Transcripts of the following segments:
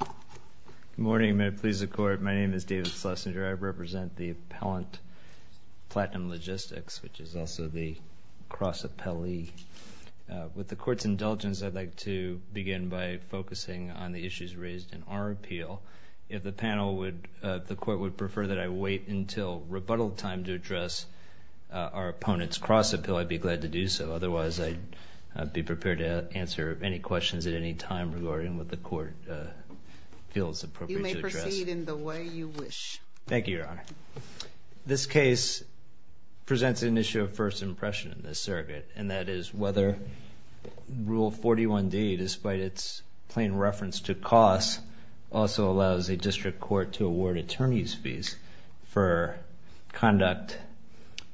Good morning. May it please the Court, my name is David Schlesinger. I represent the appellant, Platinum Logistics, which is also the cross appellee. With the Court's indulgence, I'd like to begin by focusing on the issues raised in our appeal. If the panel would, if the Court would prefer that I wait until rebuttal time to address our opponent's cross appeal, I'd be glad to do so. Otherwise, I'd be prepared to answer any questions at any time regarding what the Court feels appropriate to address. You may proceed in the way you wish. Thank you, Your Honor. This case presents an issue of first impression in this circuit, and that is whether Rule 41d, despite its plain reference to costs, also allows a district court to award attorneys' fees for conduct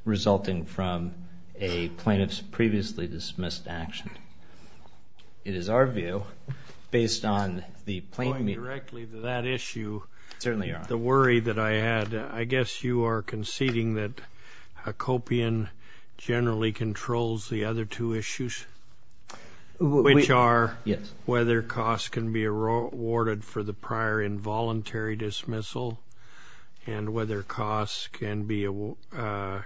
resulting from a plaintiff's previously dismissed action. It is our view, based on the plaintiff's... Going directly to that issue... Certainly, Your Honor. ...the worry that I had, I guess you are conceding that a copian generally controls the other two issues, which are... Yes. ...whether costs can be awarded for the prior involuntary dismissal and whether costs can be... whether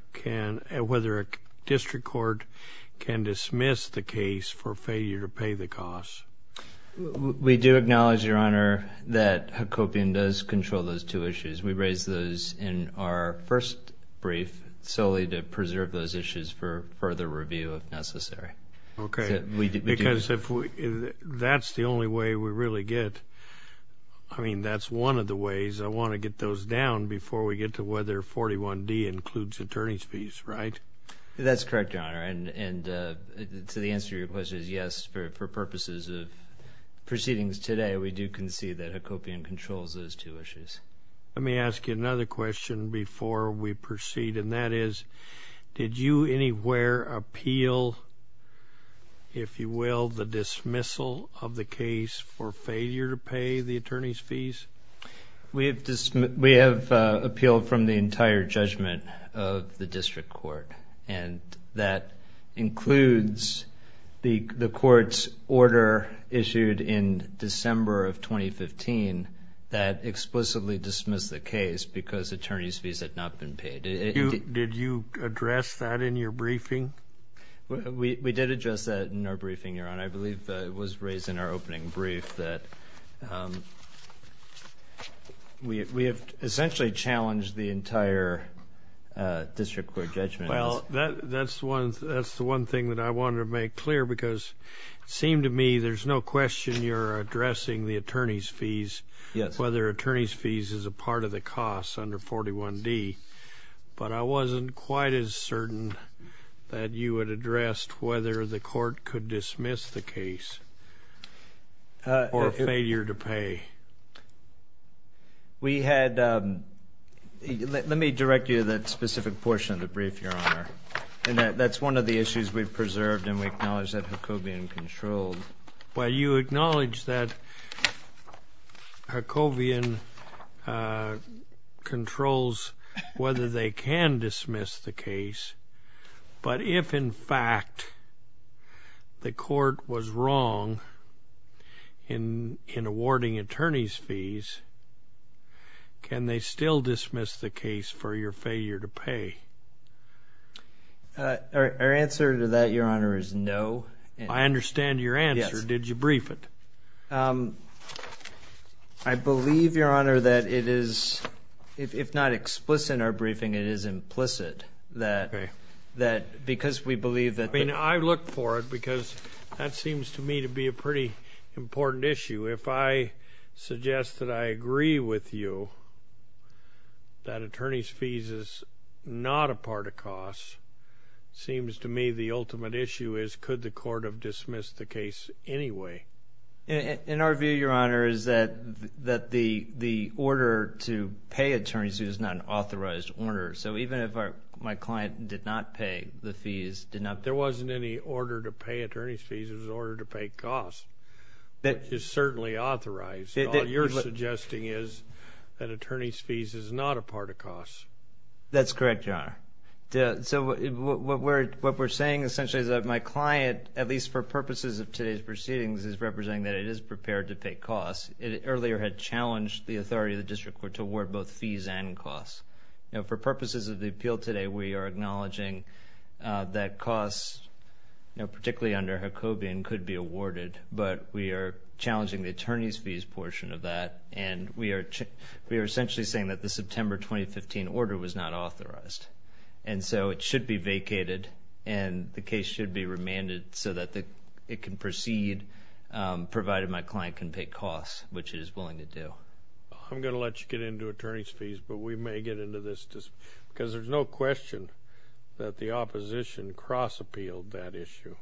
a district court can dismiss the case for failure to pay the costs. We do acknowledge, Your Honor, that a copian does control those two issues. We raise those in our first brief solely to preserve those issues for further review if necessary. Okay. Because if we... That's the only way we really get... I mean, that's one of the ways I want to get those down before we get to whether 41d includes attorneys' fees, right? That's correct, Your Honor. And so the answer to your question is yes. For purposes of proceedings today, we do concede that a copian controls those two issues. Let me ask you another question before we proceed, and that is did you anywhere appeal, if you will, the dismissal of the case for failure to pay the attorneys' fees? We have appealed from the entire judgment of the district court, and that includes the court's order issued in December of 2015 that explicitly dismissed the case because attorneys' fees had not been paid. Did you address that in your briefing? We did address that in our briefing, Your Honor. And I believe it was raised in our opening brief that we have essentially challenged the entire district court judgment. Well, that's the one thing that I wanted to make clear because it seemed to me there's no question you're addressing the attorneys' fees, whether attorneys' fees is a part of the costs under 41d. Did you ask whether the court could dismiss the case for failure to pay? Let me direct you to that specific portion of the brief, Your Honor. That's one of the issues we've preserved, and we acknowledge that Hacobian controlled. Well, you acknowledge that Hacobian controls whether they can dismiss the case, but if, in fact, the court was wrong in awarding attorneys' fees, can they still dismiss the case for your failure to pay? Our answer to that, Your Honor, is no. I understand your answer. Did you brief it? I believe, Your Honor, that it is, if not explicit in our briefing, it is implicit that because we believe that the ---- I mean, I look for it because that seems to me to be a pretty important issue. If I suggest that I agree with you that attorneys' fees is not a part of costs, it seems to me the ultimate issue is could the court have dismissed the case anyway. In our view, Your Honor, is that the order to pay attorneys' fees is not an authorized order. So even if my client did not pay the fees, did not ---- There wasn't any order to pay attorneys' fees. It was an order to pay costs, which is certainly authorized. All you're suggesting is that attorneys' fees is not a part of costs. That's correct, Your Honor. So what we're saying, essentially, is that my client, at least for purposes of today's proceedings, is representing that it is prepared to pay costs. It earlier had challenged the authority of the district court to award both fees and costs. Now, for purposes of the appeal today, we are acknowledging that costs, particularly under Jacobian, could be awarded, but we are challenging the attorneys' fees portion of that, and we are essentially saying that the September 2015 order was not authorized. And so it should be vacated, and the case should be remanded so that it can proceed, provided my client can pay costs, which it is willing to do. I'm going to let you get into attorneys' fees, but we may get into this, because there's no question that the opposition cross-appealed that issue.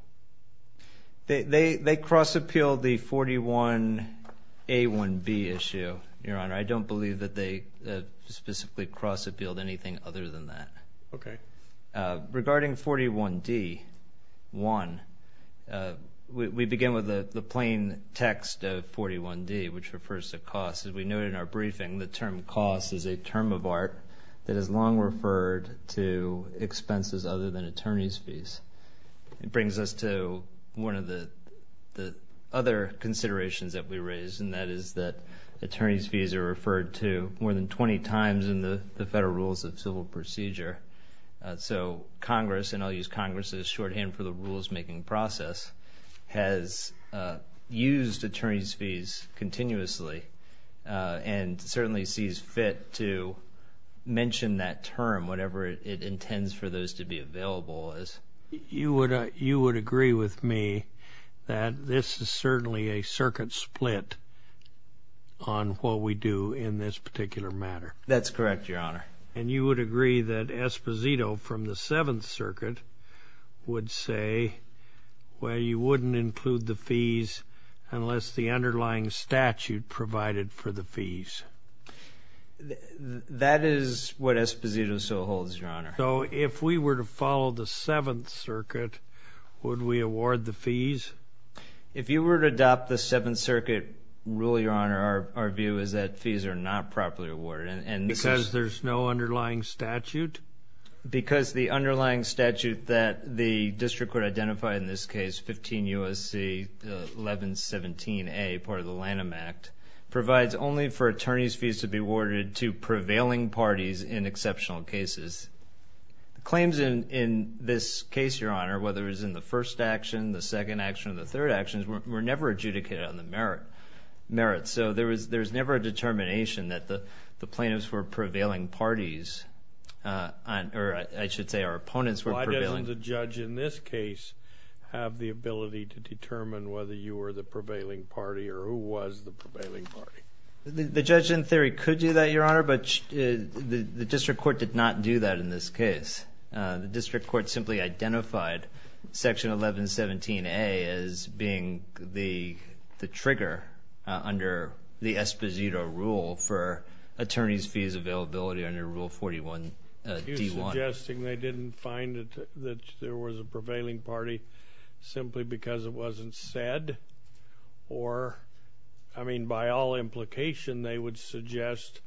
They cross-appealed the 41A1B issue, Your Honor. I don't believe that they specifically cross-appealed anything other than that. Okay. Regarding 41D1, we begin with the plain text of 41D, which refers to costs. As we noted in our briefing, the term costs is a term of art that is long referred to expenses other than attorneys' fees. It brings us to one of the other considerations that we raised, and that is that attorneys' fees are referred to more than 20 times in the Federal Rules of Civil Procedure. So Congress, and I'll use Congress as shorthand for the rules-making process, has used attorneys' fees continuously and certainly sees fit to mention that term, whatever it intends for those to be available as. You would agree with me that this is certainly a circuit split on what we do in this particular matter. That's correct, Your Honor. And you would agree that Esposito from the Seventh Circuit would say, well, you wouldn't include the fees unless the underlying statute provided for the fees. So if we were to follow the Seventh Circuit, would we award the fees? If you were to adopt the Seventh Circuit rule, Your Honor, our view is that fees are not properly awarded. Because there's no underlying statute? Because the underlying statute that the district would identify in this case, 15 U.S.C. 1117A, part of the Lanham Act, provides only for attorneys' fees to be awarded to prevailing parties in exceptional cases. Claims in this case, Your Honor, whether it was in the first action, the second action, or the third action, were never adjudicated on the merits. So there's never a determination that the plaintiffs were prevailing parties, or I should say our opponents were prevailing. Why doesn't the judge in this case have the ability to determine whether you were the prevailing party or who was the prevailing party? The judge in theory could do that, Your Honor, but the district court did not do that in this case. The district court simply identified Section 1117A as being the trigger under the Esposito rule for attorneys' fees availability under Rule 41D1. You're suggesting they didn't find that there was a prevailing party simply because it wasn't said, or, I mean, by all implication, they would suggest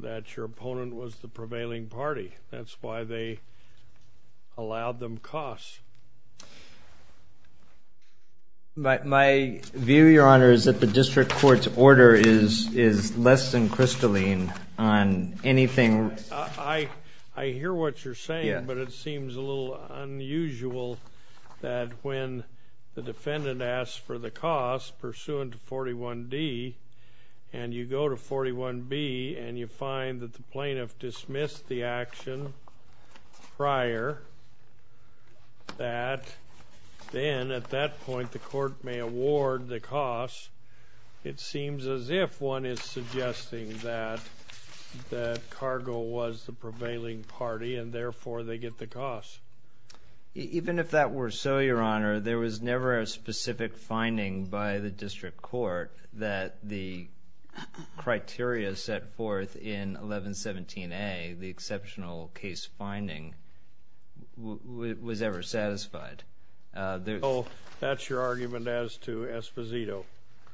that your opponent was the prevailing party. That's why they allowed them costs. My view, Your Honor, is that the district court's order is less than crystalline on anything. I hear what you're saying, but it seems a little unusual that when the defendant asks for the costs pursuant to 41D, and you go to 41B, and you find that the plaintiff dismissed the action prior, that then at that point the court may award the costs. It seems as if one is suggesting that Cargo was the prevailing party and therefore they get the costs. Even if that were so, Your Honor, there was never a specific finding by the district court that the criteria set forth in 1117A, the exceptional case finding, was ever satisfied. So that's your argument as to Esposito?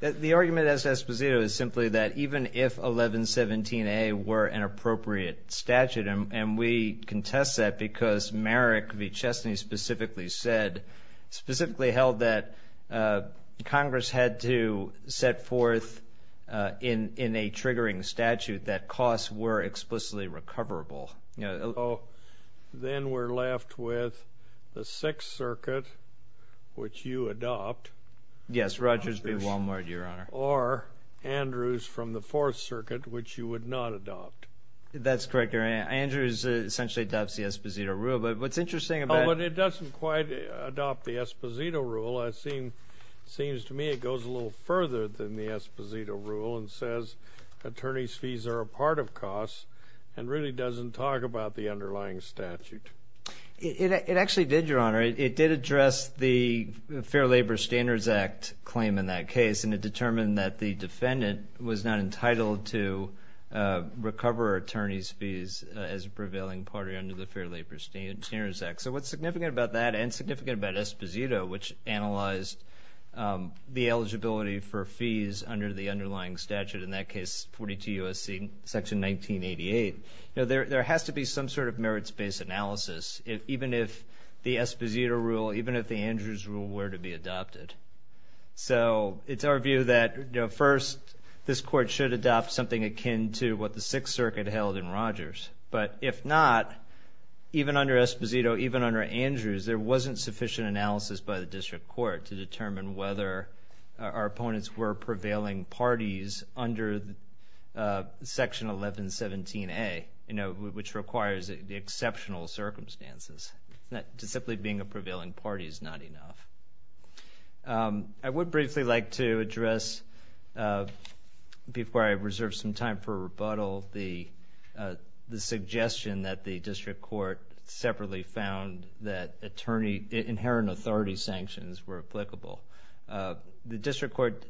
The argument as to Esposito is simply that even if 1117A were an appropriate statute, and we contest that because Merrick v. Chesney specifically said, specifically held that Congress had to set forth in a triggering statute that costs were explicitly recoverable. Then we're left with the Sixth Circuit, which you adopt. Yes, Rogers v. Walmart, Your Honor. Or Andrews from the Fourth Circuit, which you would not adopt. That's correct, Your Honor. Andrews essentially adopts the Esposito rule, but what's interesting about it is Oh, but it doesn't quite adopt the Esposito rule. It seems to me it goes a little further than the Esposito rule and says attorneys' fees are a part of costs and really doesn't talk about the underlying statute. It actually did, Your Honor. It did address the Fair Labor Standards Act claim in that case, and it determined that the defendant was not entitled to recover attorney's fees as a prevailing party under the Fair Labor Standards Act. So what's significant about that and significant about Esposito, which analyzed the eligibility for fees under the underlying statute, in that case 42 U.S.C. Section 1988, there has to be some sort of merits-based analysis, even if the Esposito rule, even if the Andrews rule were to be adopted. So it's our view that first this Court should adopt something akin to what the Sixth Circuit held in Rogers. But if not, even under Esposito, even under Andrews, there wasn't sufficient analysis by the district court to determine whether our opponents were prevailing parties under Section 1117A, which requires the exceptional circumstances. Simply being a prevailing party is not enough. I would briefly like to address, before I reserve some time for rebuttal, the suggestion that the district court separately found that inherent authority sanctions were applicable. The district court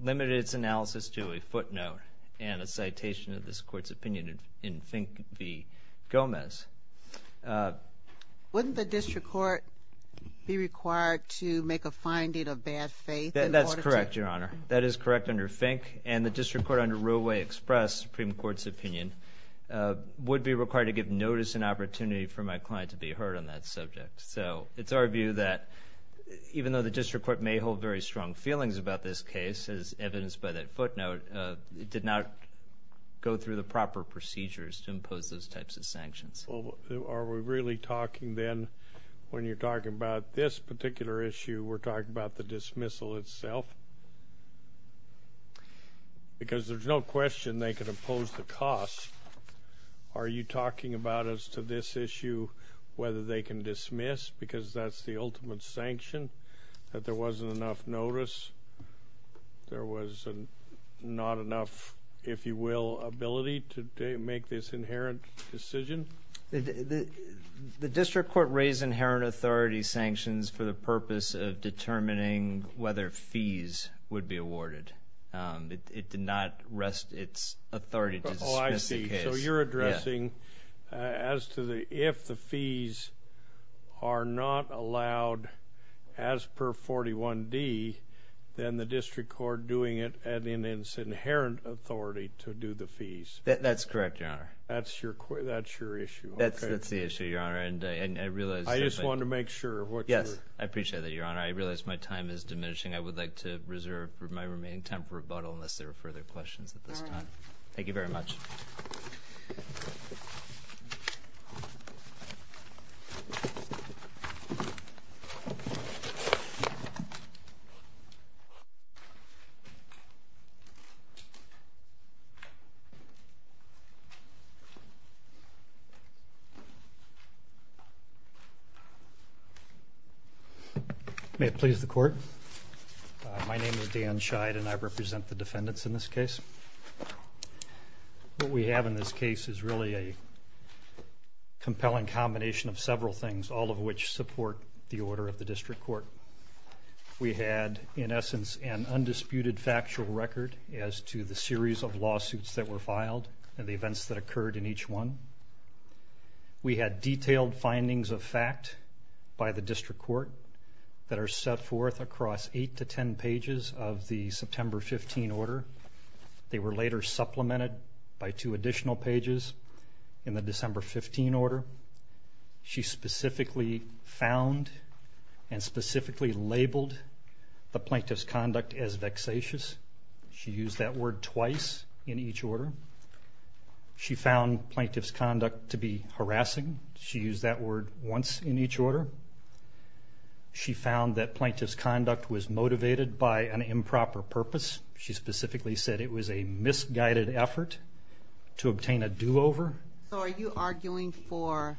limited its analysis to a footnote and a citation of this Court's opinion in Fink v. Gomez. Wouldn't the district court be required to make a finding of bad faith in order to... That's correct, Your Honor. That is correct under Fink. And the district court under Roleway Express, Supreme Court's opinion, would be required to give notice and opportunity for my client to be heard on that subject. So it's our view that even though the district court may hold very strong feelings about this case, as evidenced by that footnote, it did not go through the proper procedures to impose those types of sanctions. Are we really talking then, when you're talking about this particular issue, we're talking about the dismissal itself? Because there's no question they could impose the cost. Are you talking about as to this issue whether they can dismiss, because that's the ultimate sanction, that there wasn't enough notice, there was not enough, if you will, ability to make this inherent decision? The district court raised inherent authority sanctions for the purpose of determining whether fees would be awarded. It did not rest its authority to dismiss the case. Oh, I see. So you're addressing as to if the fees are not allowed as per 41D, then the district court doing it and in its inherent authority to do the fees. That's correct, Your Honor. That's your issue? That's the issue, Your Honor. I just wanted to make sure. Yes, I appreciate that, Your Honor. I realize my time is diminishing. I would like to reserve my remaining time for rebuttal, unless there are further questions at this time. Thank you very much. May it please the Court. My name is Dan Scheid, and I represent the defendants in this case. What we have in this case is really a compelling combination of several things, all of which support the order of the district court. We had, in essence, an undisputed factual record as to the series of lawsuits that were filed and the events that occurred in each one. We had detailed findings of fact by the district court that are set forth across eight to ten pages of the September 15 order. They were later supplemented by two additional pages in the December 15 order. She specifically found and specifically labeled the plaintiff's conduct as vexatious. She used that word twice in each order. She found plaintiff's conduct to be harassing. She used that word once in each order. She found that plaintiff's conduct was motivated by an improper purpose. She specifically said it was a misguided effort to obtain a do-over. So are you arguing for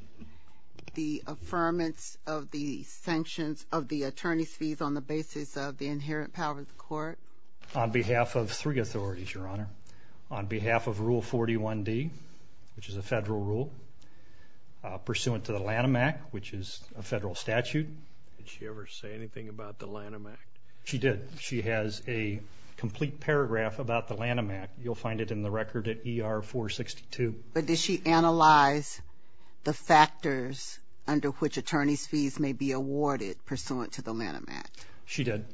the affirmance of the sanctions, of the attorney's fees on the basis of the inherent power of the court? On behalf of three authorities, Your Honor. On behalf of Rule 41D, which is a federal rule, pursuant to the Lanham Act, which is a federal statute. Did she ever say anything about the Lanham Act? She did. She has a complete paragraph about the Lanham Act. You'll find it in the record at ER 462. But did she analyze the factors under which attorney's fees may be awarded pursuant to the Lanham Act? She did.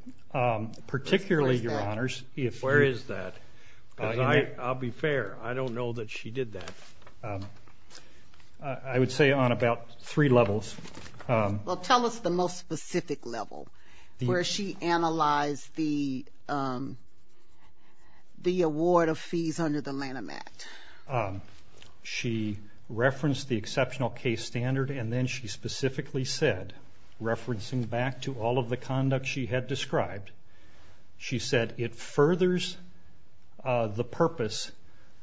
Particularly, Your Honors. Where is that? I'll be fair. I don't know that she did that. I would say on about three levels. Well, tell us the most specific level where she analyzed the award of fees under the Lanham Act. She referenced the exceptional case standard, and then she specifically said, referencing back to all of the conduct she had described, she said it furthers the purpose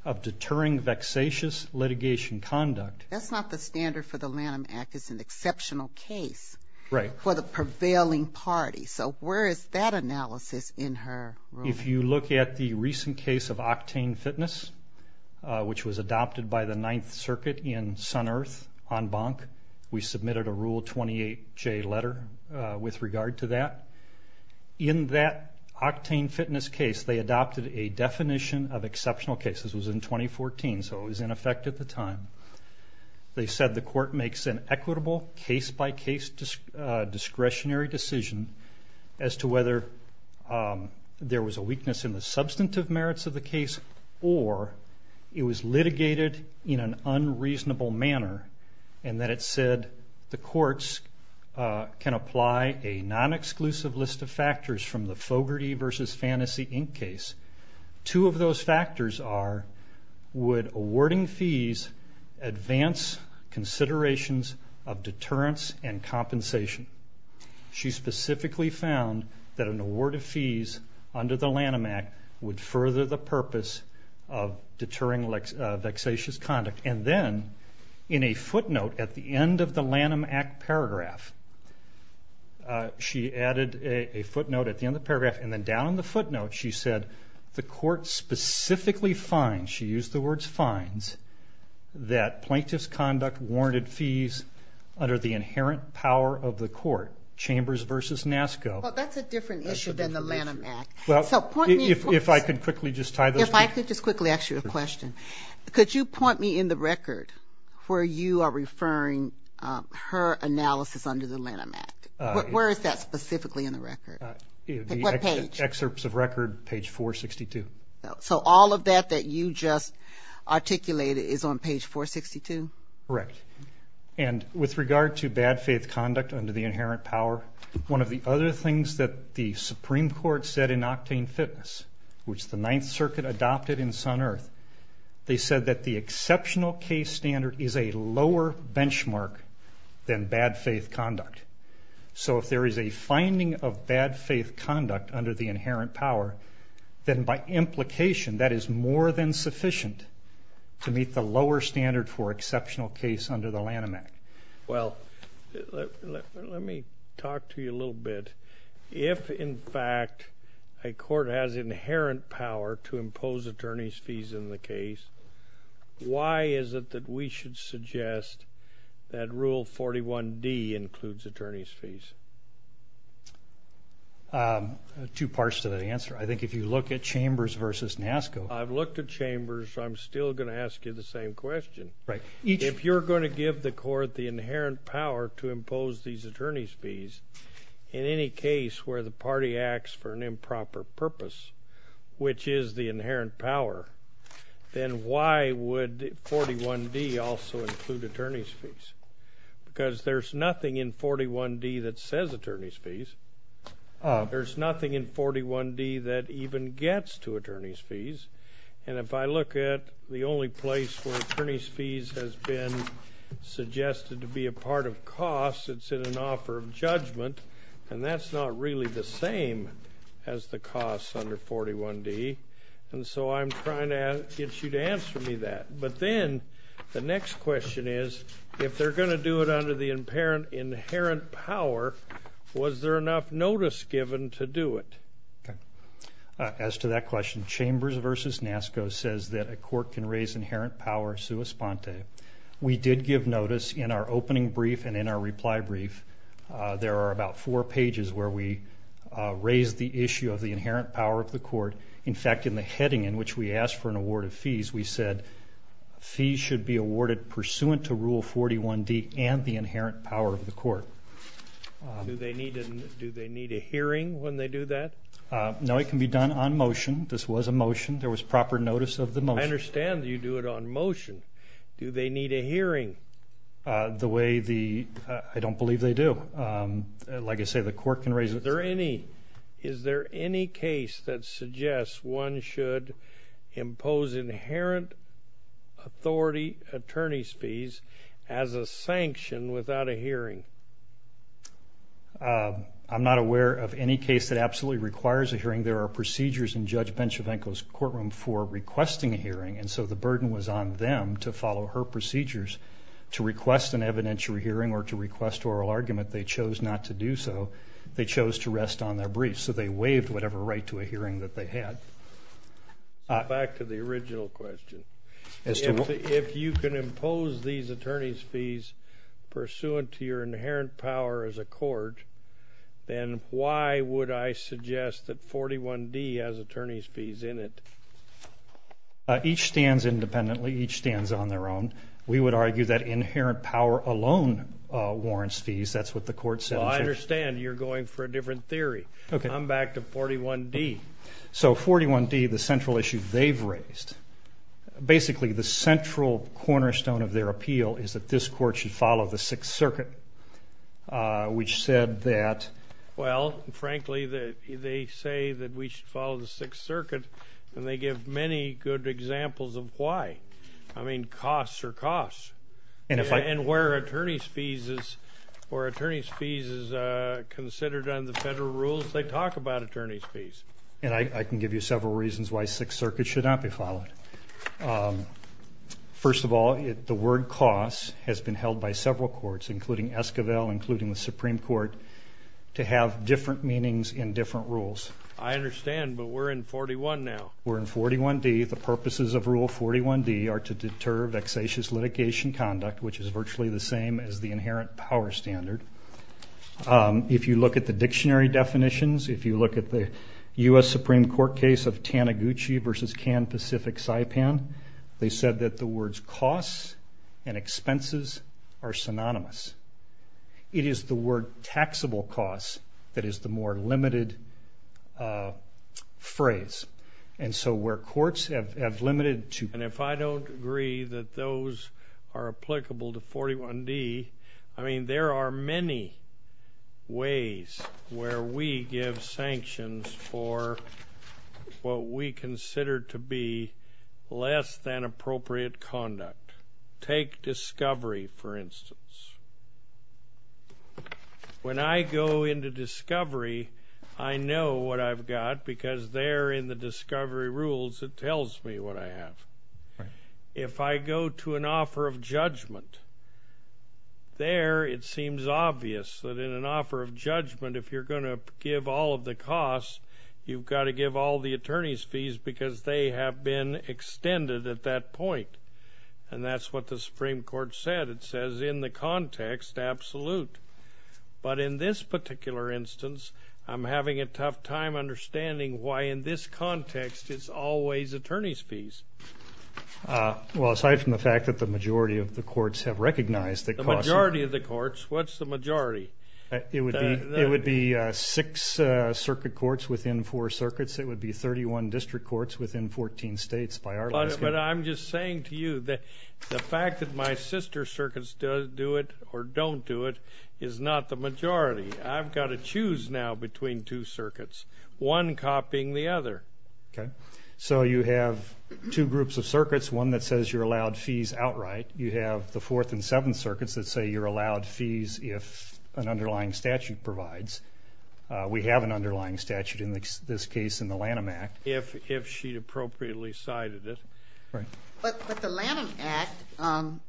of deterring vexatious litigation conduct. That's not the standard for the Lanham Act. It's an exceptional case. Right. For the prevailing party. So where is that analysis in her rule? If you look at the recent case of Octane Fitness, which was adopted by the Ninth Circuit in Sun Earth on Bonk, we submitted a Rule 28J letter with regard to that. In that Octane Fitness case, they adopted a definition of exceptional cases. It was in 2014, so it was in effect at the time. They said the court makes an equitable case-by-case discretionary decision as to whether there was a weakness in the substantive merits of the case or it was litigated in an unreasonable manner, and that it said the courts can apply a non-exclusive list of factors from the Fogarty v. Fantasy, Inc. case. Two of those factors are, would awarding fees advance considerations of deterrence and compensation? She specifically found that an award of fees under the Lanham Act would further the purpose of deterring vexatious conduct. And then in a footnote at the end of the Lanham Act paragraph, and then down in the footnote, she said the court specifically finds, she used the words finds, that plaintiff's conduct warranted fees under the inherent power of the court, Chambers v. NASCO. Well, that's a different issue than the Lanham Act. If I could quickly just tie those together. If I could just quickly ask you a question. Could you point me in the record where you are referring her analysis under the Lanham Act? Where is that specifically in the record? What page? Excerpts of record, page 462. So all of that that you just articulated is on page 462? Correct. And with regard to bad faith conduct under the inherent power, one of the other things that the Supreme Court said in Octane Fitness, which the Ninth Circuit adopted in Sun Earth, they said that the exceptional case standard is a lower benchmark than bad faith conduct. So if there is a finding of bad faith conduct under the inherent power, then by implication that is more than sufficient to meet the lower standard for exceptional case under the Lanham Act. Well, let me talk to you a little bit. If, in fact, a court has inherent power to impose attorney's fees in the case, why is it that we should suggest that Rule 41D includes attorney's fees? Two parts to that answer. I think if you look at Chambers versus NASCO. I've looked at Chambers. I'm still going to ask you the same question. If you're going to give the court the inherent power to impose these attorney's fees in any case where the party acts for an improper purpose, which is the inherent power, then why would 41D also include attorney's fees? Because there's nothing in 41D that says attorney's fees. There's nothing in 41D that even gets to attorney's fees. And if I look at the only place where attorney's fees has been suggested to be a part of costs, it's in an offer of judgment, and that's not really the same as the costs under 41D. And so I'm trying to get you to answer me that. But then the next question is, if they're going to do it under the inherent power, was there enough notice given to do it? As to that question, Chambers versus NASCO says that a court can raise inherent power sua sponte. We did give notice in our opening brief and in our reply brief. There are about four pages where we raise the issue of the inherent power of the court. In fact, in the heading in which we asked for an award of fees, we said fees should be awarded pursuant to Rule 41D and the inherent power of the court. Do they need a hearing when they do that? No, it can be done on motion. This was a motion. There was proper notice of the motion. I understand that you do it on motion. Do they need a hearing? I don't believe they do. Like I say, the court can raise it. Is there any case that suggests one should impose inherent authority, attorney's fees, as a sanction without a hearing? I'm not aware of any case that absolutely requires a hearing. There are procedures in Judge Benchvenko's courtroom for requesting a hearing, and so the burden was on them to follow her procedures to request an evidentiary hearing or to request oral argument. They chose not to do so. They chose to rest on their briefs, so they waived whatever right to a hearing that they had. Back to the original question. If you can impose these attorney's fees pursuant to your inherent power as a court, then why would I suggest that 41D has attorney's fees in it? Each stands independently. Each stands on their own. We would argue that inherent power alone warrants fees. That's what the court said. Well, I understand you're going for a different theory. I'm back to 41D. So 41D, the central issue they've raised, basically the central cornerstone of their appeal is that this court should follow the Sixth Circuit, which said that? Well, frankly, they say that we should follow the Sixth Circuit, and they give many good examples of why. I mean, costs are costs. And where attorney's fees is considered under the federal rules, they talk about attorney's fees. And I can give you several reasons why Sixth Circuit should not be followed. First of all, the word cost has been held by several courts, including Esquivel, including the Supreme Court, to have different meanings in different rules. I understand, but we're in 41 now. We're in 41D. The purposes of Rule 41D are to deter vexatious litigation conduct, which is virtually the same as the inherent power standard. If you look at the dictionary definitions, if you look at the U.S. Supreme Court case of Taniguchi v. Can Pacific Saipan, they said that the words costs and expenses are synonymous. It is the word taxable costs that is the more limited phrase. And so where courts have limited to... And if I don't agree that those are applicable to 41D, I mean, there are many ways where we give sanctions for what we consider to be less than appropriate conduct. Take discovery, for instance. When I go into discovery, I know what I've got because there in the discovery rules it tells me what I have. If I go to an offer of judgment, there it seems obvious that in an offer of judgment, if you're going to give all of the costs, you've got to give all the attorney's fees because they have been extended at that point. And that's what the Supreme Court said. It says in the context, absolute. But in this particular instance, I'm having a tough time understanding why in this context it's always attorney's fees. Well, aside from the fact that the majority of the courts have recognized that costs... The majority of the courts? What's the majority? It would be six circuit courts within four circuits. It would be 31 district courts within 14 states. But I'm just saying to you that the fact that my sister's circuits do it or don't do it is not the majority. I've got to choose now between two circuits, one copying the other. Okay. So you have two groups of circuits, one that says you're allowed fees outright. You have the fourth and seventh circuits that say you're allowed fees if an underlying statute provides. We have an underlying statute in this case in the Lanham Act. If she'd appropriately cited it. But the Lanham Act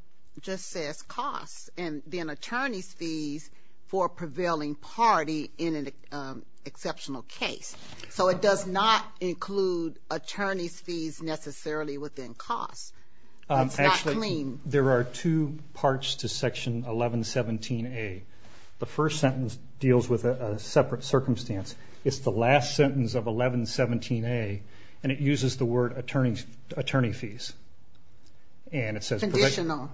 just says costs, and then attorney's fees for a prevailing party in an exceptional case. So it does not include attorney's fees necessarily within costs. It's not clean. Actually, there are two parts to Section 1117A. The first sentence deals with a separate circumstance. It's the last sentence of 1117A, and it uses the word attorney fees. Conditional.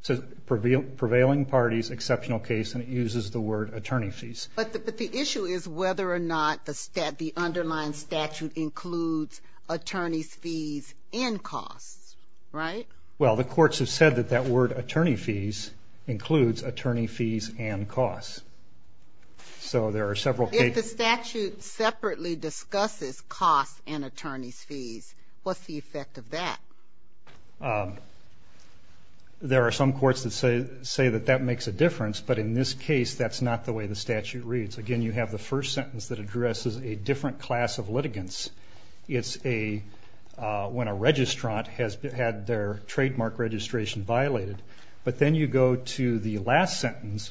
It says prevailing parties, exceptional case, and it uses the word attorney fees. But the issue is whether or not the underlying statute includes attorney's fees and costs. Right? Well, the courts have said that that word attorney fees includes attorney fees and costs. So there are several cases. If the statute separately discusses costs and attorney's fees, what's the effect of that? There are some courts that say that that makes a difference, but in this case that's not the way the statute reads. Again, you have the first sentence that addresses a different class of litigants. It's when a registrant has had their trademark registration violated. But then you go to the last sentence.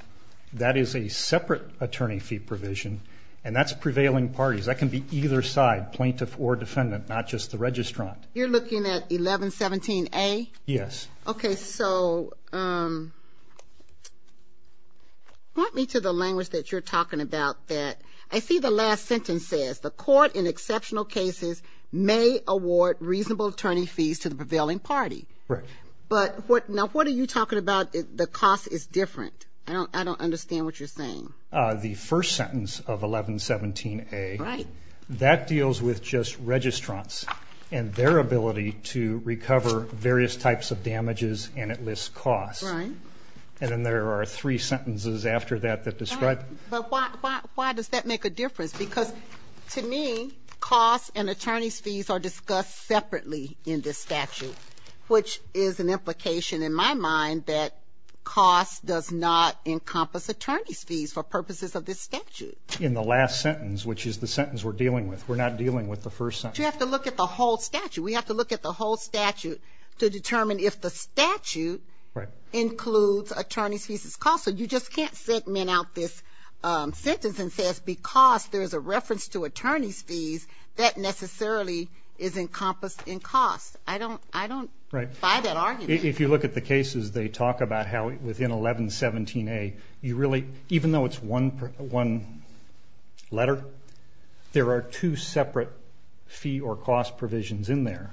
That is a separate attorney fee provision, and that's prevailing parties. That can be either side, plaintiff or defendant, not just the registrant. You're looking at 1117A? Yes. Okay, so point me to the language that you're talking about. I see the last sentence says, the court in exceptional cases may award reasonable attorney fees to the prevailing party. Right. But now what are you talking about? The cost is different. I don't understand what you're saying. The first sentence of 1117A, that deals with just registrants and their ability to recover various types of damages, and it lists costs. Right. And then there are three sentences after that that describe. But why does that make a difference? Because to me, costs and attorney's fees are discussed separately in this statute, which is an implication in my mind that costs does not encompass attorney's fees for purposes of this statute. In the last sentence, which is the sentence we're dealing with. We're not dealing with the first sentence. You have to look at the whole statute. We have to look at the whole statute to determine if the statute includes attorney's fees as costs. So you just can't segment out this sentence and say it's because there's a reference to attorney's fees. That necessarily is encompassed in costs. I don't buy that argument. If you look at the cases, they talk about how within 1117A, even though it's one letter, there are two separate fee or cost provisions in there.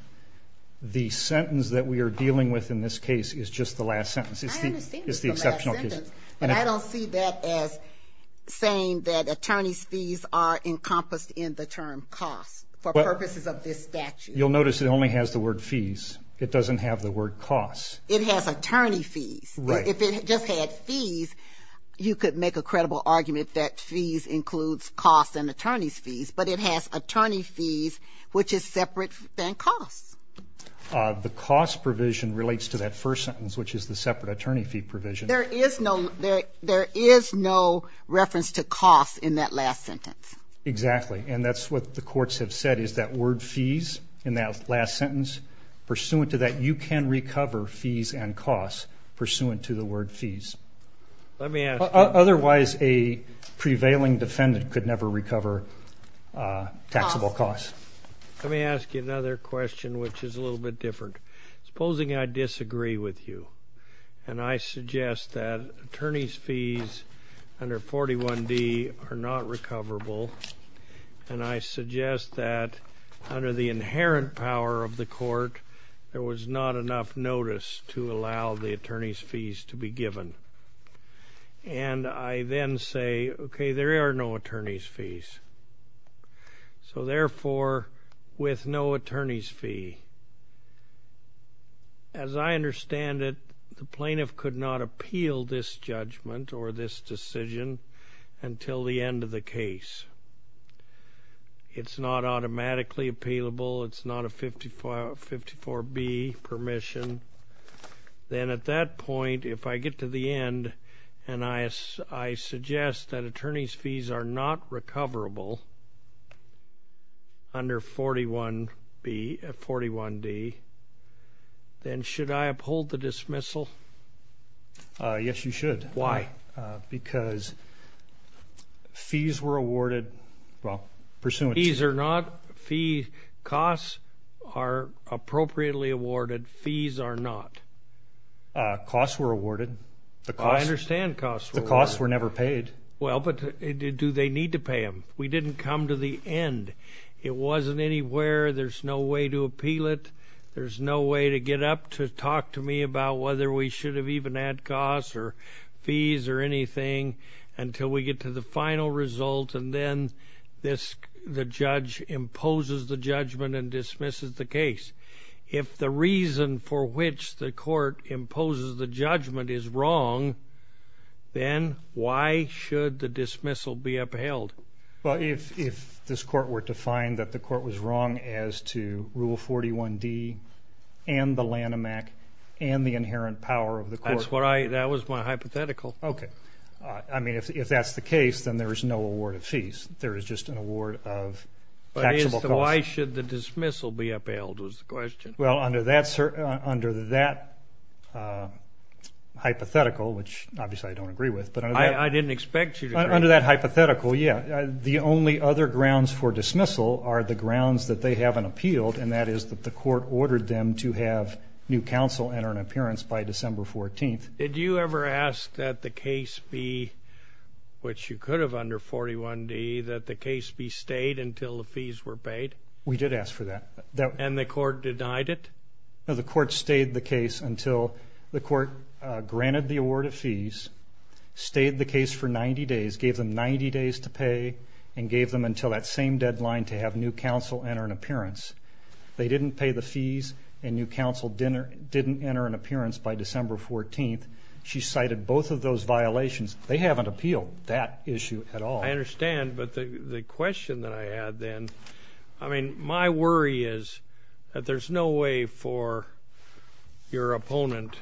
The sentence that we are dealing with in this case is just the last sentence. I understand it's the last sentence. It's the exceptional case. And I don't see that as saying that attorney's fees are encompassed in the term costs for purposes of this statute. You'll notice it only has the word fees. It doesn't have the word costs. It has attorney fees. Right. If it just had fees, you could make a credible argument that fees includes costs and attorney's fees. But it has attorney fees, which is separate than costs. The cost provision relates to that first sentence, which is the separate attorney fee provision. There is no reference to costs in that last sentence. Exactly. And that's what the courts have said is that word fees in that last sentence, pursuant to that you can recover fees and costs pursuant to the word fees. Otherwise, a prevailing defendant could never recover taxable costs. Let me ask you another question, which is a little bit different. Supposing I disagree with you and I suggest that attorney's fees under 41D are not recoverable and I suggest that under the inherent power of the court, there was not enough notice to allow the attorney's fees to be given. And I then say, okay, there are no attorney's fees. So, therefore, with no attorney's fee, as I understand it, the plaintiff could not appeal this judgment or this decision until the end of the case. It's not automatically appealable. It's not a 54B permission. Then at that point, if I get to the end and I suggest that attorney's fees are not recoverable under 41D, then should I uphold the dismissal? Yes, you should. Why? Because fees were awarded, well, pursuant to. Fees are not. Fees, costs are appropriately awarded. Fees are not. Costs were awarded. I understand costs were awarded. The costs were never paid. Well, but do they need to pay them? We didn't come to the end. It wasn't anywhere. There's no way to appeal it. There's no way to get up to talk to me about whether we should have even had costs or fees or anything until we get to the final result, and then the judge imposes the judgment and dismisses the case. If the reason for which the court imposes the judgment is wrong, then why should the dismissal be upheld? Well, if this court were to find that the court was wrong as to Rule 41D and the Lanham Act and the inherent power of the court. That was my hypothetical. Okay. I mean, if that's the case, then there is no award of fees. There is just an award of taxable costs. Why should the dismissal be upheld was the question. Well, under that hypothetical, which obviously I don't agree with. I didn't expect you to agree. Under that hypothetical, yeah. The only other grounds for dismissal are the grounds that they haven't appealed, and that is that the court ordered them to have new counsel enter an appearance by December 14th. Did you ever ask that the case be, which you could have under 41D, that the case be stayed until the fees were paid? We did ask for that. And the court denied it? No, the court stayed the case until the court granted the award of fees, stayed the case for 90 days, gave them 90 days to pay, and gave them until that same deadline to have new counsel enter an appearance. They didn't pay the fees, and new counsel didn't enter an appearance by December 14th. She cited both of those violations. They haven't appealed that issue at all. I understand, but the question that I had then, I mean, my worry is that there's no way for your opponent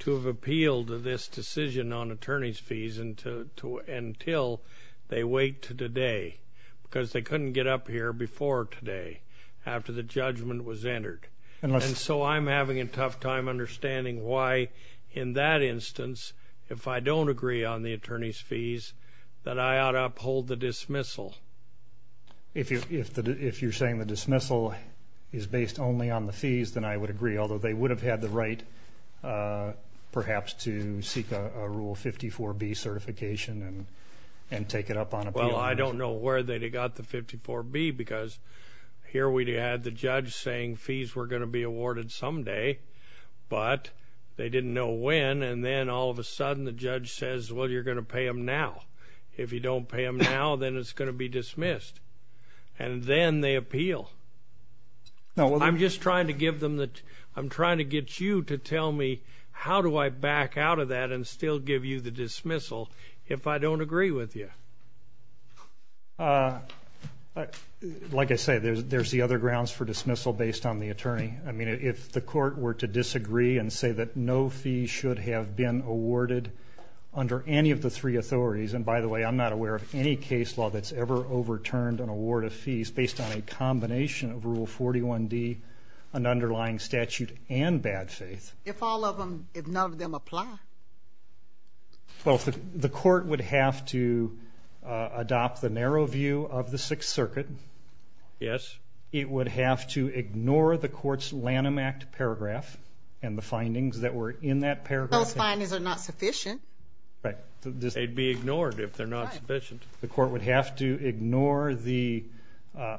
to have appealed this decision on attorney's fees until they wait to today, because they couldn't get up here before today, after the judgment was entered. And so I'm having a tough time understanding why, in that instance, if I don't agree on the attorney's fees, that I ought to uphold the dismissal. If you're saying the dismissal is based only on the fees, then I would agree, although they would have had the right, perhaps, to seek a Rule 54B certification and take it up on appeal. Well, I don't know where they got the 54B, because here we had the judge saying fees were going to be awarded someday, but they didn't know when, and then all of a sudden the judge says, well, you're going to pay them now. If you don't pay them now, then it's going to be dismissed. And then they appeal. I'm just trying to get you to tell me how do I back out of that and still give you the dismissal if I don't agree with you. Like I said, there's the other grounds for dismissal based on the attorney. I mean, if the court were to disagree and say that no fees should have been awarded under any of the three authorities, and by the way, I'm not aware of any case law that's ever overturned an award of fees based on a combination of Rule 41D, an underlying statute, and bad faith. If all of them, if none of them apply? Well, the court would have to adopt the narrow view of the Sixth Circuit. Yes. It would have to ignore the court's Lanham Act paragraph and the findings that were in that paragraph. Those findings are not sufficient. Right. They'd be ignored if they're not sufficient. The court would have to ignore the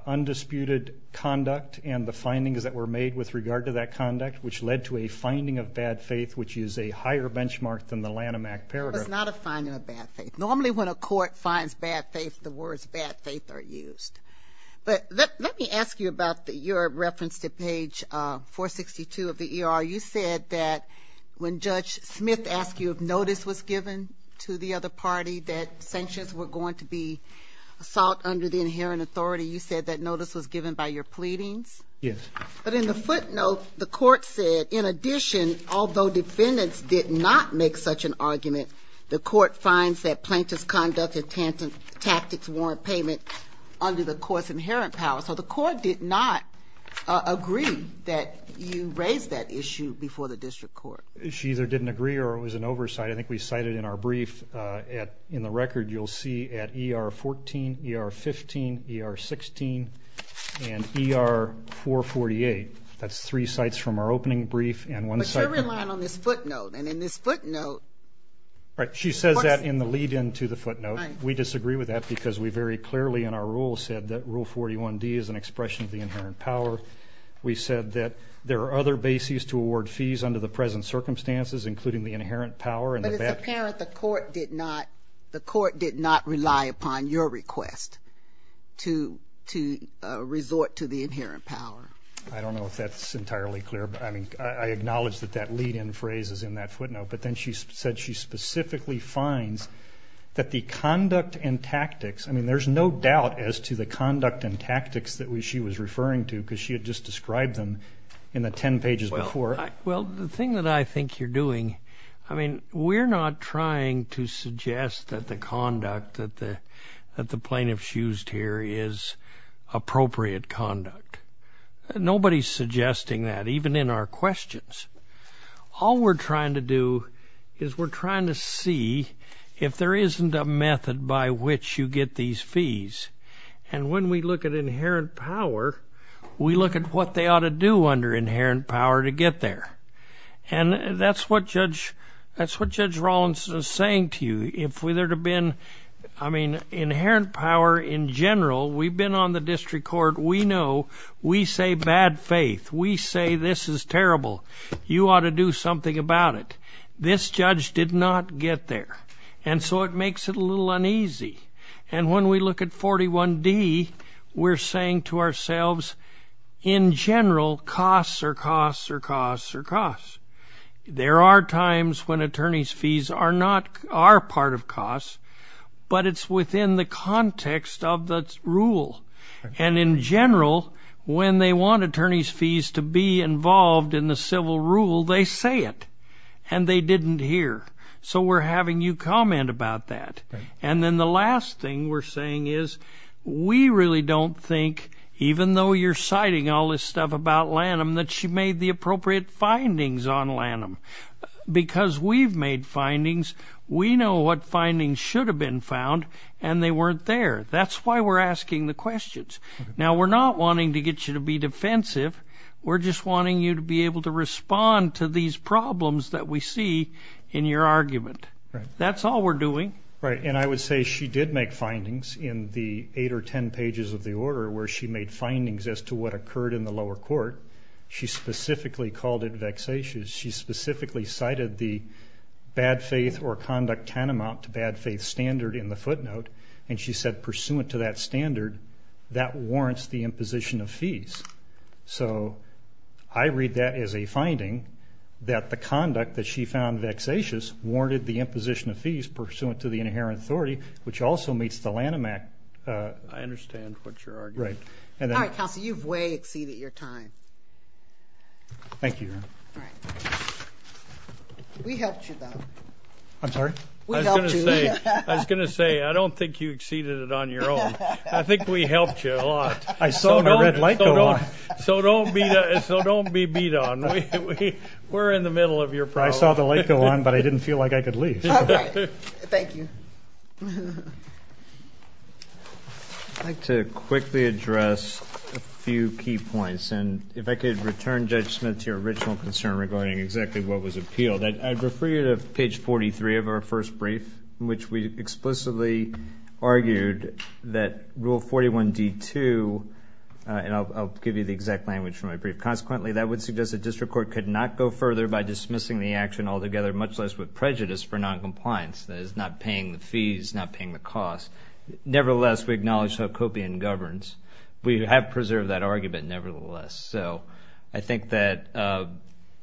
undisputed conduct and the findings that were made with regard to that conduct, which led to a finding of bad faith, which is a higher benchmark than the Lanham Act paragraph. It's not a finding of bad faith. Normally when a court finds bad faith, the words bad faith are used. But let me ask you about your reference to page 462 of the E.R. You said that when Judge Smith asked you if notice was given to the other party that sanctions were going to be sought under the inherent authority, you said that notice was given by your pleadings? Yes. But in the footnote, the court said, in addition, although defendants did not make such an argument, the court finds that plaintiff's conduct and tactics warrant payment under the court's inherent power. So the court did not agree that you raised that issue before the district court. She either didn't agree or it was an oversight. I think we cited in our brief in the record, you'll see at E.R. 14, E.R. 15, E.R. 16, and E.R. 448. That's three sites from our opening brief and one site. But you're relying on this footnote. Right. She says that in the lead-in to the footnote. We disagree with that because we very clearly in our rule said that Rule 41D is an expression of the inherent power. We said that there are other bases to award fees under the present circumstances, including the inherent power. But it's apparent the court did not rely upon your request to resort to the inherent power. I don't know if that's entirely clear. I mean, I acknowledge that that lead-in phrase is in that footnote. But then she said she specifically finds that the conduct and tactics, I mean, there's no doubt as to the conduct and tactics that she was referring to because she had just described them in the 10 pages before. Well, the thing that I think you're doing, I mean, we're not trying to suggest that the conduct that the plaintiff's used here is appropriate conduct. Nobody's suggesting that, even in our questions. All we're trying to do is we're trying to see if there isn't a method by which you get these fees. And when we look at inherent power, we look at what they ought to do under inherent power to get there. And that's what Judge Rollins is saying to you. I mean, inherent power in general, we've been on the district court. We know. We say bad faith. We say this is terrible. You ought to do something about it. This judge did not get there. And so it makes it a little uneasy. And when we look at 41D, we're saying to ourselves, in general, costs are costs are costs are costs. There are times when attorney's fees are not our part of costs, but it's within the context of the rule. And in general, when they want attorney's fees to be involved in the civil rule, they say it. And they didn't hear. So we're having you comment about that. And then the last thing we're saying is we really don't think, even though you're citing all this stuff about Lanham, that she made the appropriate findings on Lanham. Because we've made findings. We know what findings should have been found, and they weren't there. That's why we're asking the questions. Now, we're not wanting to get you to be defensive. We're just wanting you to be able to respond to these problems that we see in your argument. That's all we're doing. Right, and I would say she did make findings in the 8 or 10 pages of the order where she made findings as to what occurred in the lower court. She specifically called it vexatious. She specifically cited the bad faith or conduct tantamount to bad faith standard in the footnote, and she said pursuant to that standard, that warrants the imposition of fees. So I read that as a finding that the conduct that she found vexatious warranted the imposition of fees pursuant to the inherent authority, which also meets the Lanham Act. I understand what you're arguing. Right. All right, counsel, you've way exceeded your time. Thank you, Your Honor. All right. We helped you, though. I'm sorry? We helped you. I was going to say, I don't think you exceeded it on your own. I think we helped you a lot. I saw the red light go on. So don't be beat on. We're in the middle of your problem. I saw the light go on, but I didn't feel like I could leave. All right. Thank you. I'd like to quickly address a few key points, and if I could return, Judge Smith, to your original concern regarding exactly what was appealed. I'd refer you to page 43 of our first brief, in which we explicitly argued that Rule 41D2, and I'll give you the exact language from my brief, consequently that would suggest the district court could not go further by dismissing the action altogether, much less with prejudice for noncompliance. That is, not paying the fees, not paying the cost. Nevertheless, we acknowledge how Copian governs. We have preserved that argument, nevertheless. So I think that,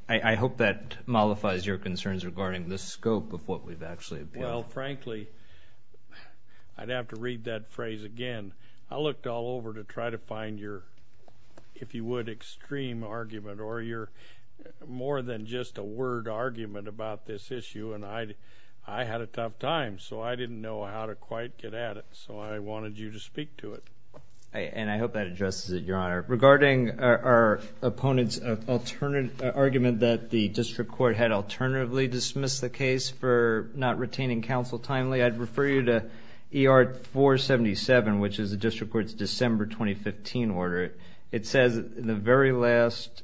I hope that mollifies your concerns regarding the scope of what we've actually appealed. Well, frankly, I'd have to read that phrase again. I looked all over to try to find your, if you would, extreme argument, or your more than just a word argument about this issue, and I had a tough time. So I didn't know how to quite get at it. So I wanted you to speak to it. And I hope that addresses it, Your Honor. Regarding our opponent's argument that the district court had alternatively dismissed the case for not retaining counsel timely, I'd refer you to ER 477, which is the district court's December 2015 order. It says in the very last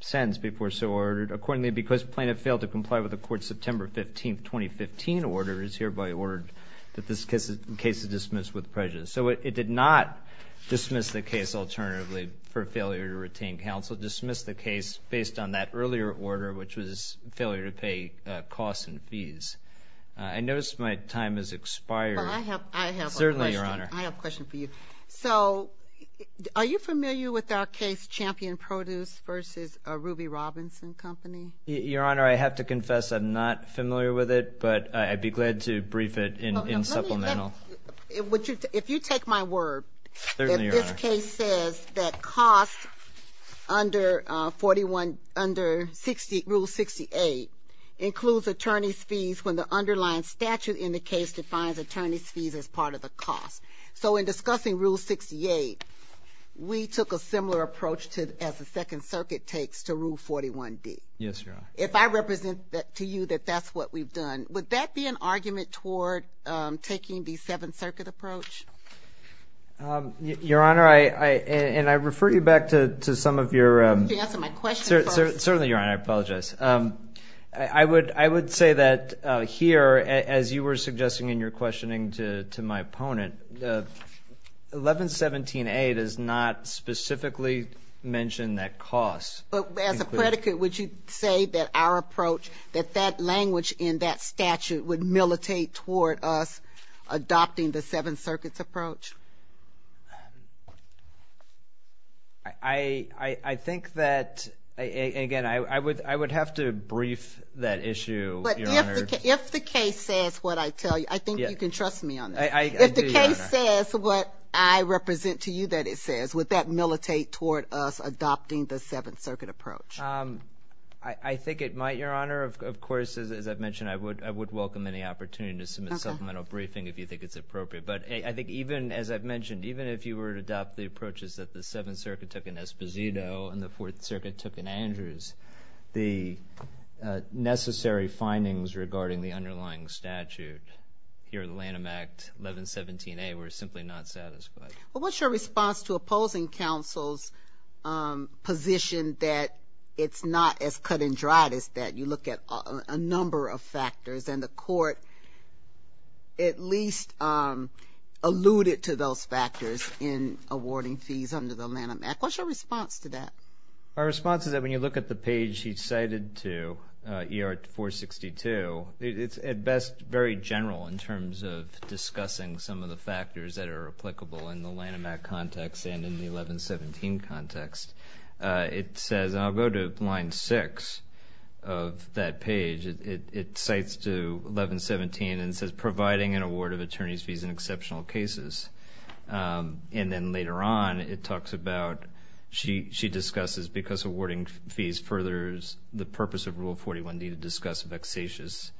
sentence before so ordered, accordingly because plaintiff failed to comply with the court's September 15, 2015 order, it is hereby ordered that this case is dismissed with prejudice. So it did not dismiss the case alternatively for failure to retain counsel. It dismissed the case based on that earlier order, which was failure to pay costs and fees. I notice my time has expired. I have a question. Certainly, Your Honor. I have a question for you. So are you familiar with our case Champion Produce v. Ruby Robinson Company? Your Honor, I have to confess I'm not familiar with it, but I'd be glad to brief it in supplemental. If you take my word that this case says that costs under Rule 68 includes attorney's fees when the underlying statute in the case defines attorney's fees as part of the cost. So in discussing Rule 68, we took a similar approach as the Second Circuit takes to Rule 41D. Yes, Your Honor. If I represent to you that that's what we've done, would that be an argument toward taking the Seventh Circuit approach? Your Honor, and I refer you back to some of your. Certainly, Your Honor. I apologize. I would say that here, as you were suggesting in your questioning to my opponent, 1117A does not specifically mention that costs. But as a predicate, would you say that our approach, that that language in that statute would militate toward us adopting the Seventh Circuit's approach? I think that, again, I would have to brief that issue, Your Honor. But if the case says what I tell you, I think you can trust me on this. I do, Your Honor. If the case says what I represent to you that it says, would that militate toward us adopting the Seventh Circuit approach? I think it might, Your Honor. Of course, as I've mentioned, I would welcome any opportunity to submit supplemental briefing if you think it's appropriate. But I think even, as I've mentioned, even if you were to adopt the approaches that the Seventh Circuit took in Esposito and the Fourth Circuit took in Andrews, the necessary findings regarding the underlying statute here in the Lanham Act, 1117A, were simply not satisfied. Well, what's your response to opposing counsel's position that it's not as cut and dried as that? You look at a number of factors. And the Court at least alluded to those factors in awarding fees under the Lanham Act. What's your response to that? My response is that when you look at the page he cited to ER-462, it's at best very general in terms of discussing some of the factors that are applicable in the Lanham Act context and in the 1117 context. It says, and I'll go to line six of that page, it cites to 1117 and says, providing an award of attorney's fees in exceptional cases. And then later on, it talks about, she discusses, because awarding fees furthers the purpose of Rule 41D to discuss vexatious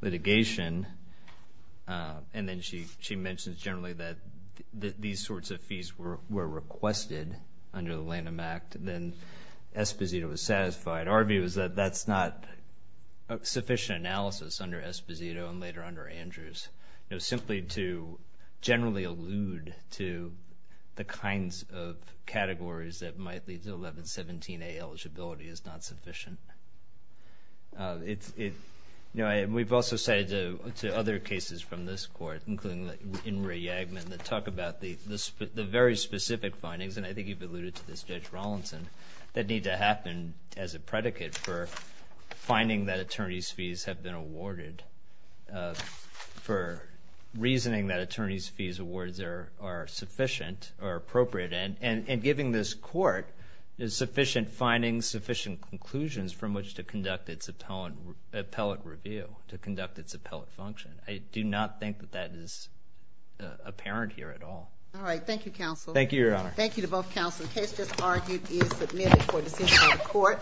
litigation, and then she mentions generally that these sorts of fees were requested under the Lanham Act, then Esposito was satisfied. Our view is that that's not sufficient analysis under Esposito and later under Andrews. Simply to generally allude to the kinds of categories that might lead to 1117A eligibility is not sufficient. We've also cited to other cases from this Court, including in Ray Yagman, that talk about the very specific findings, and I think you've alluded to this, Judge Rollinson, that need to happen as a predicate for finding that attorney's fees have been awarded, for reasoning that attorney's fees awards are sufficient or appropriate, and giving this Court sufficient findings, sufficient conclusions, from which to conduct its appellate review, to conduct its appellate function. I do not think that that is apparent here at all. Thank you, Counsel. Thank you, Your Honor. Thank you to both counsel. The case just argued is submitted for decision by the Court.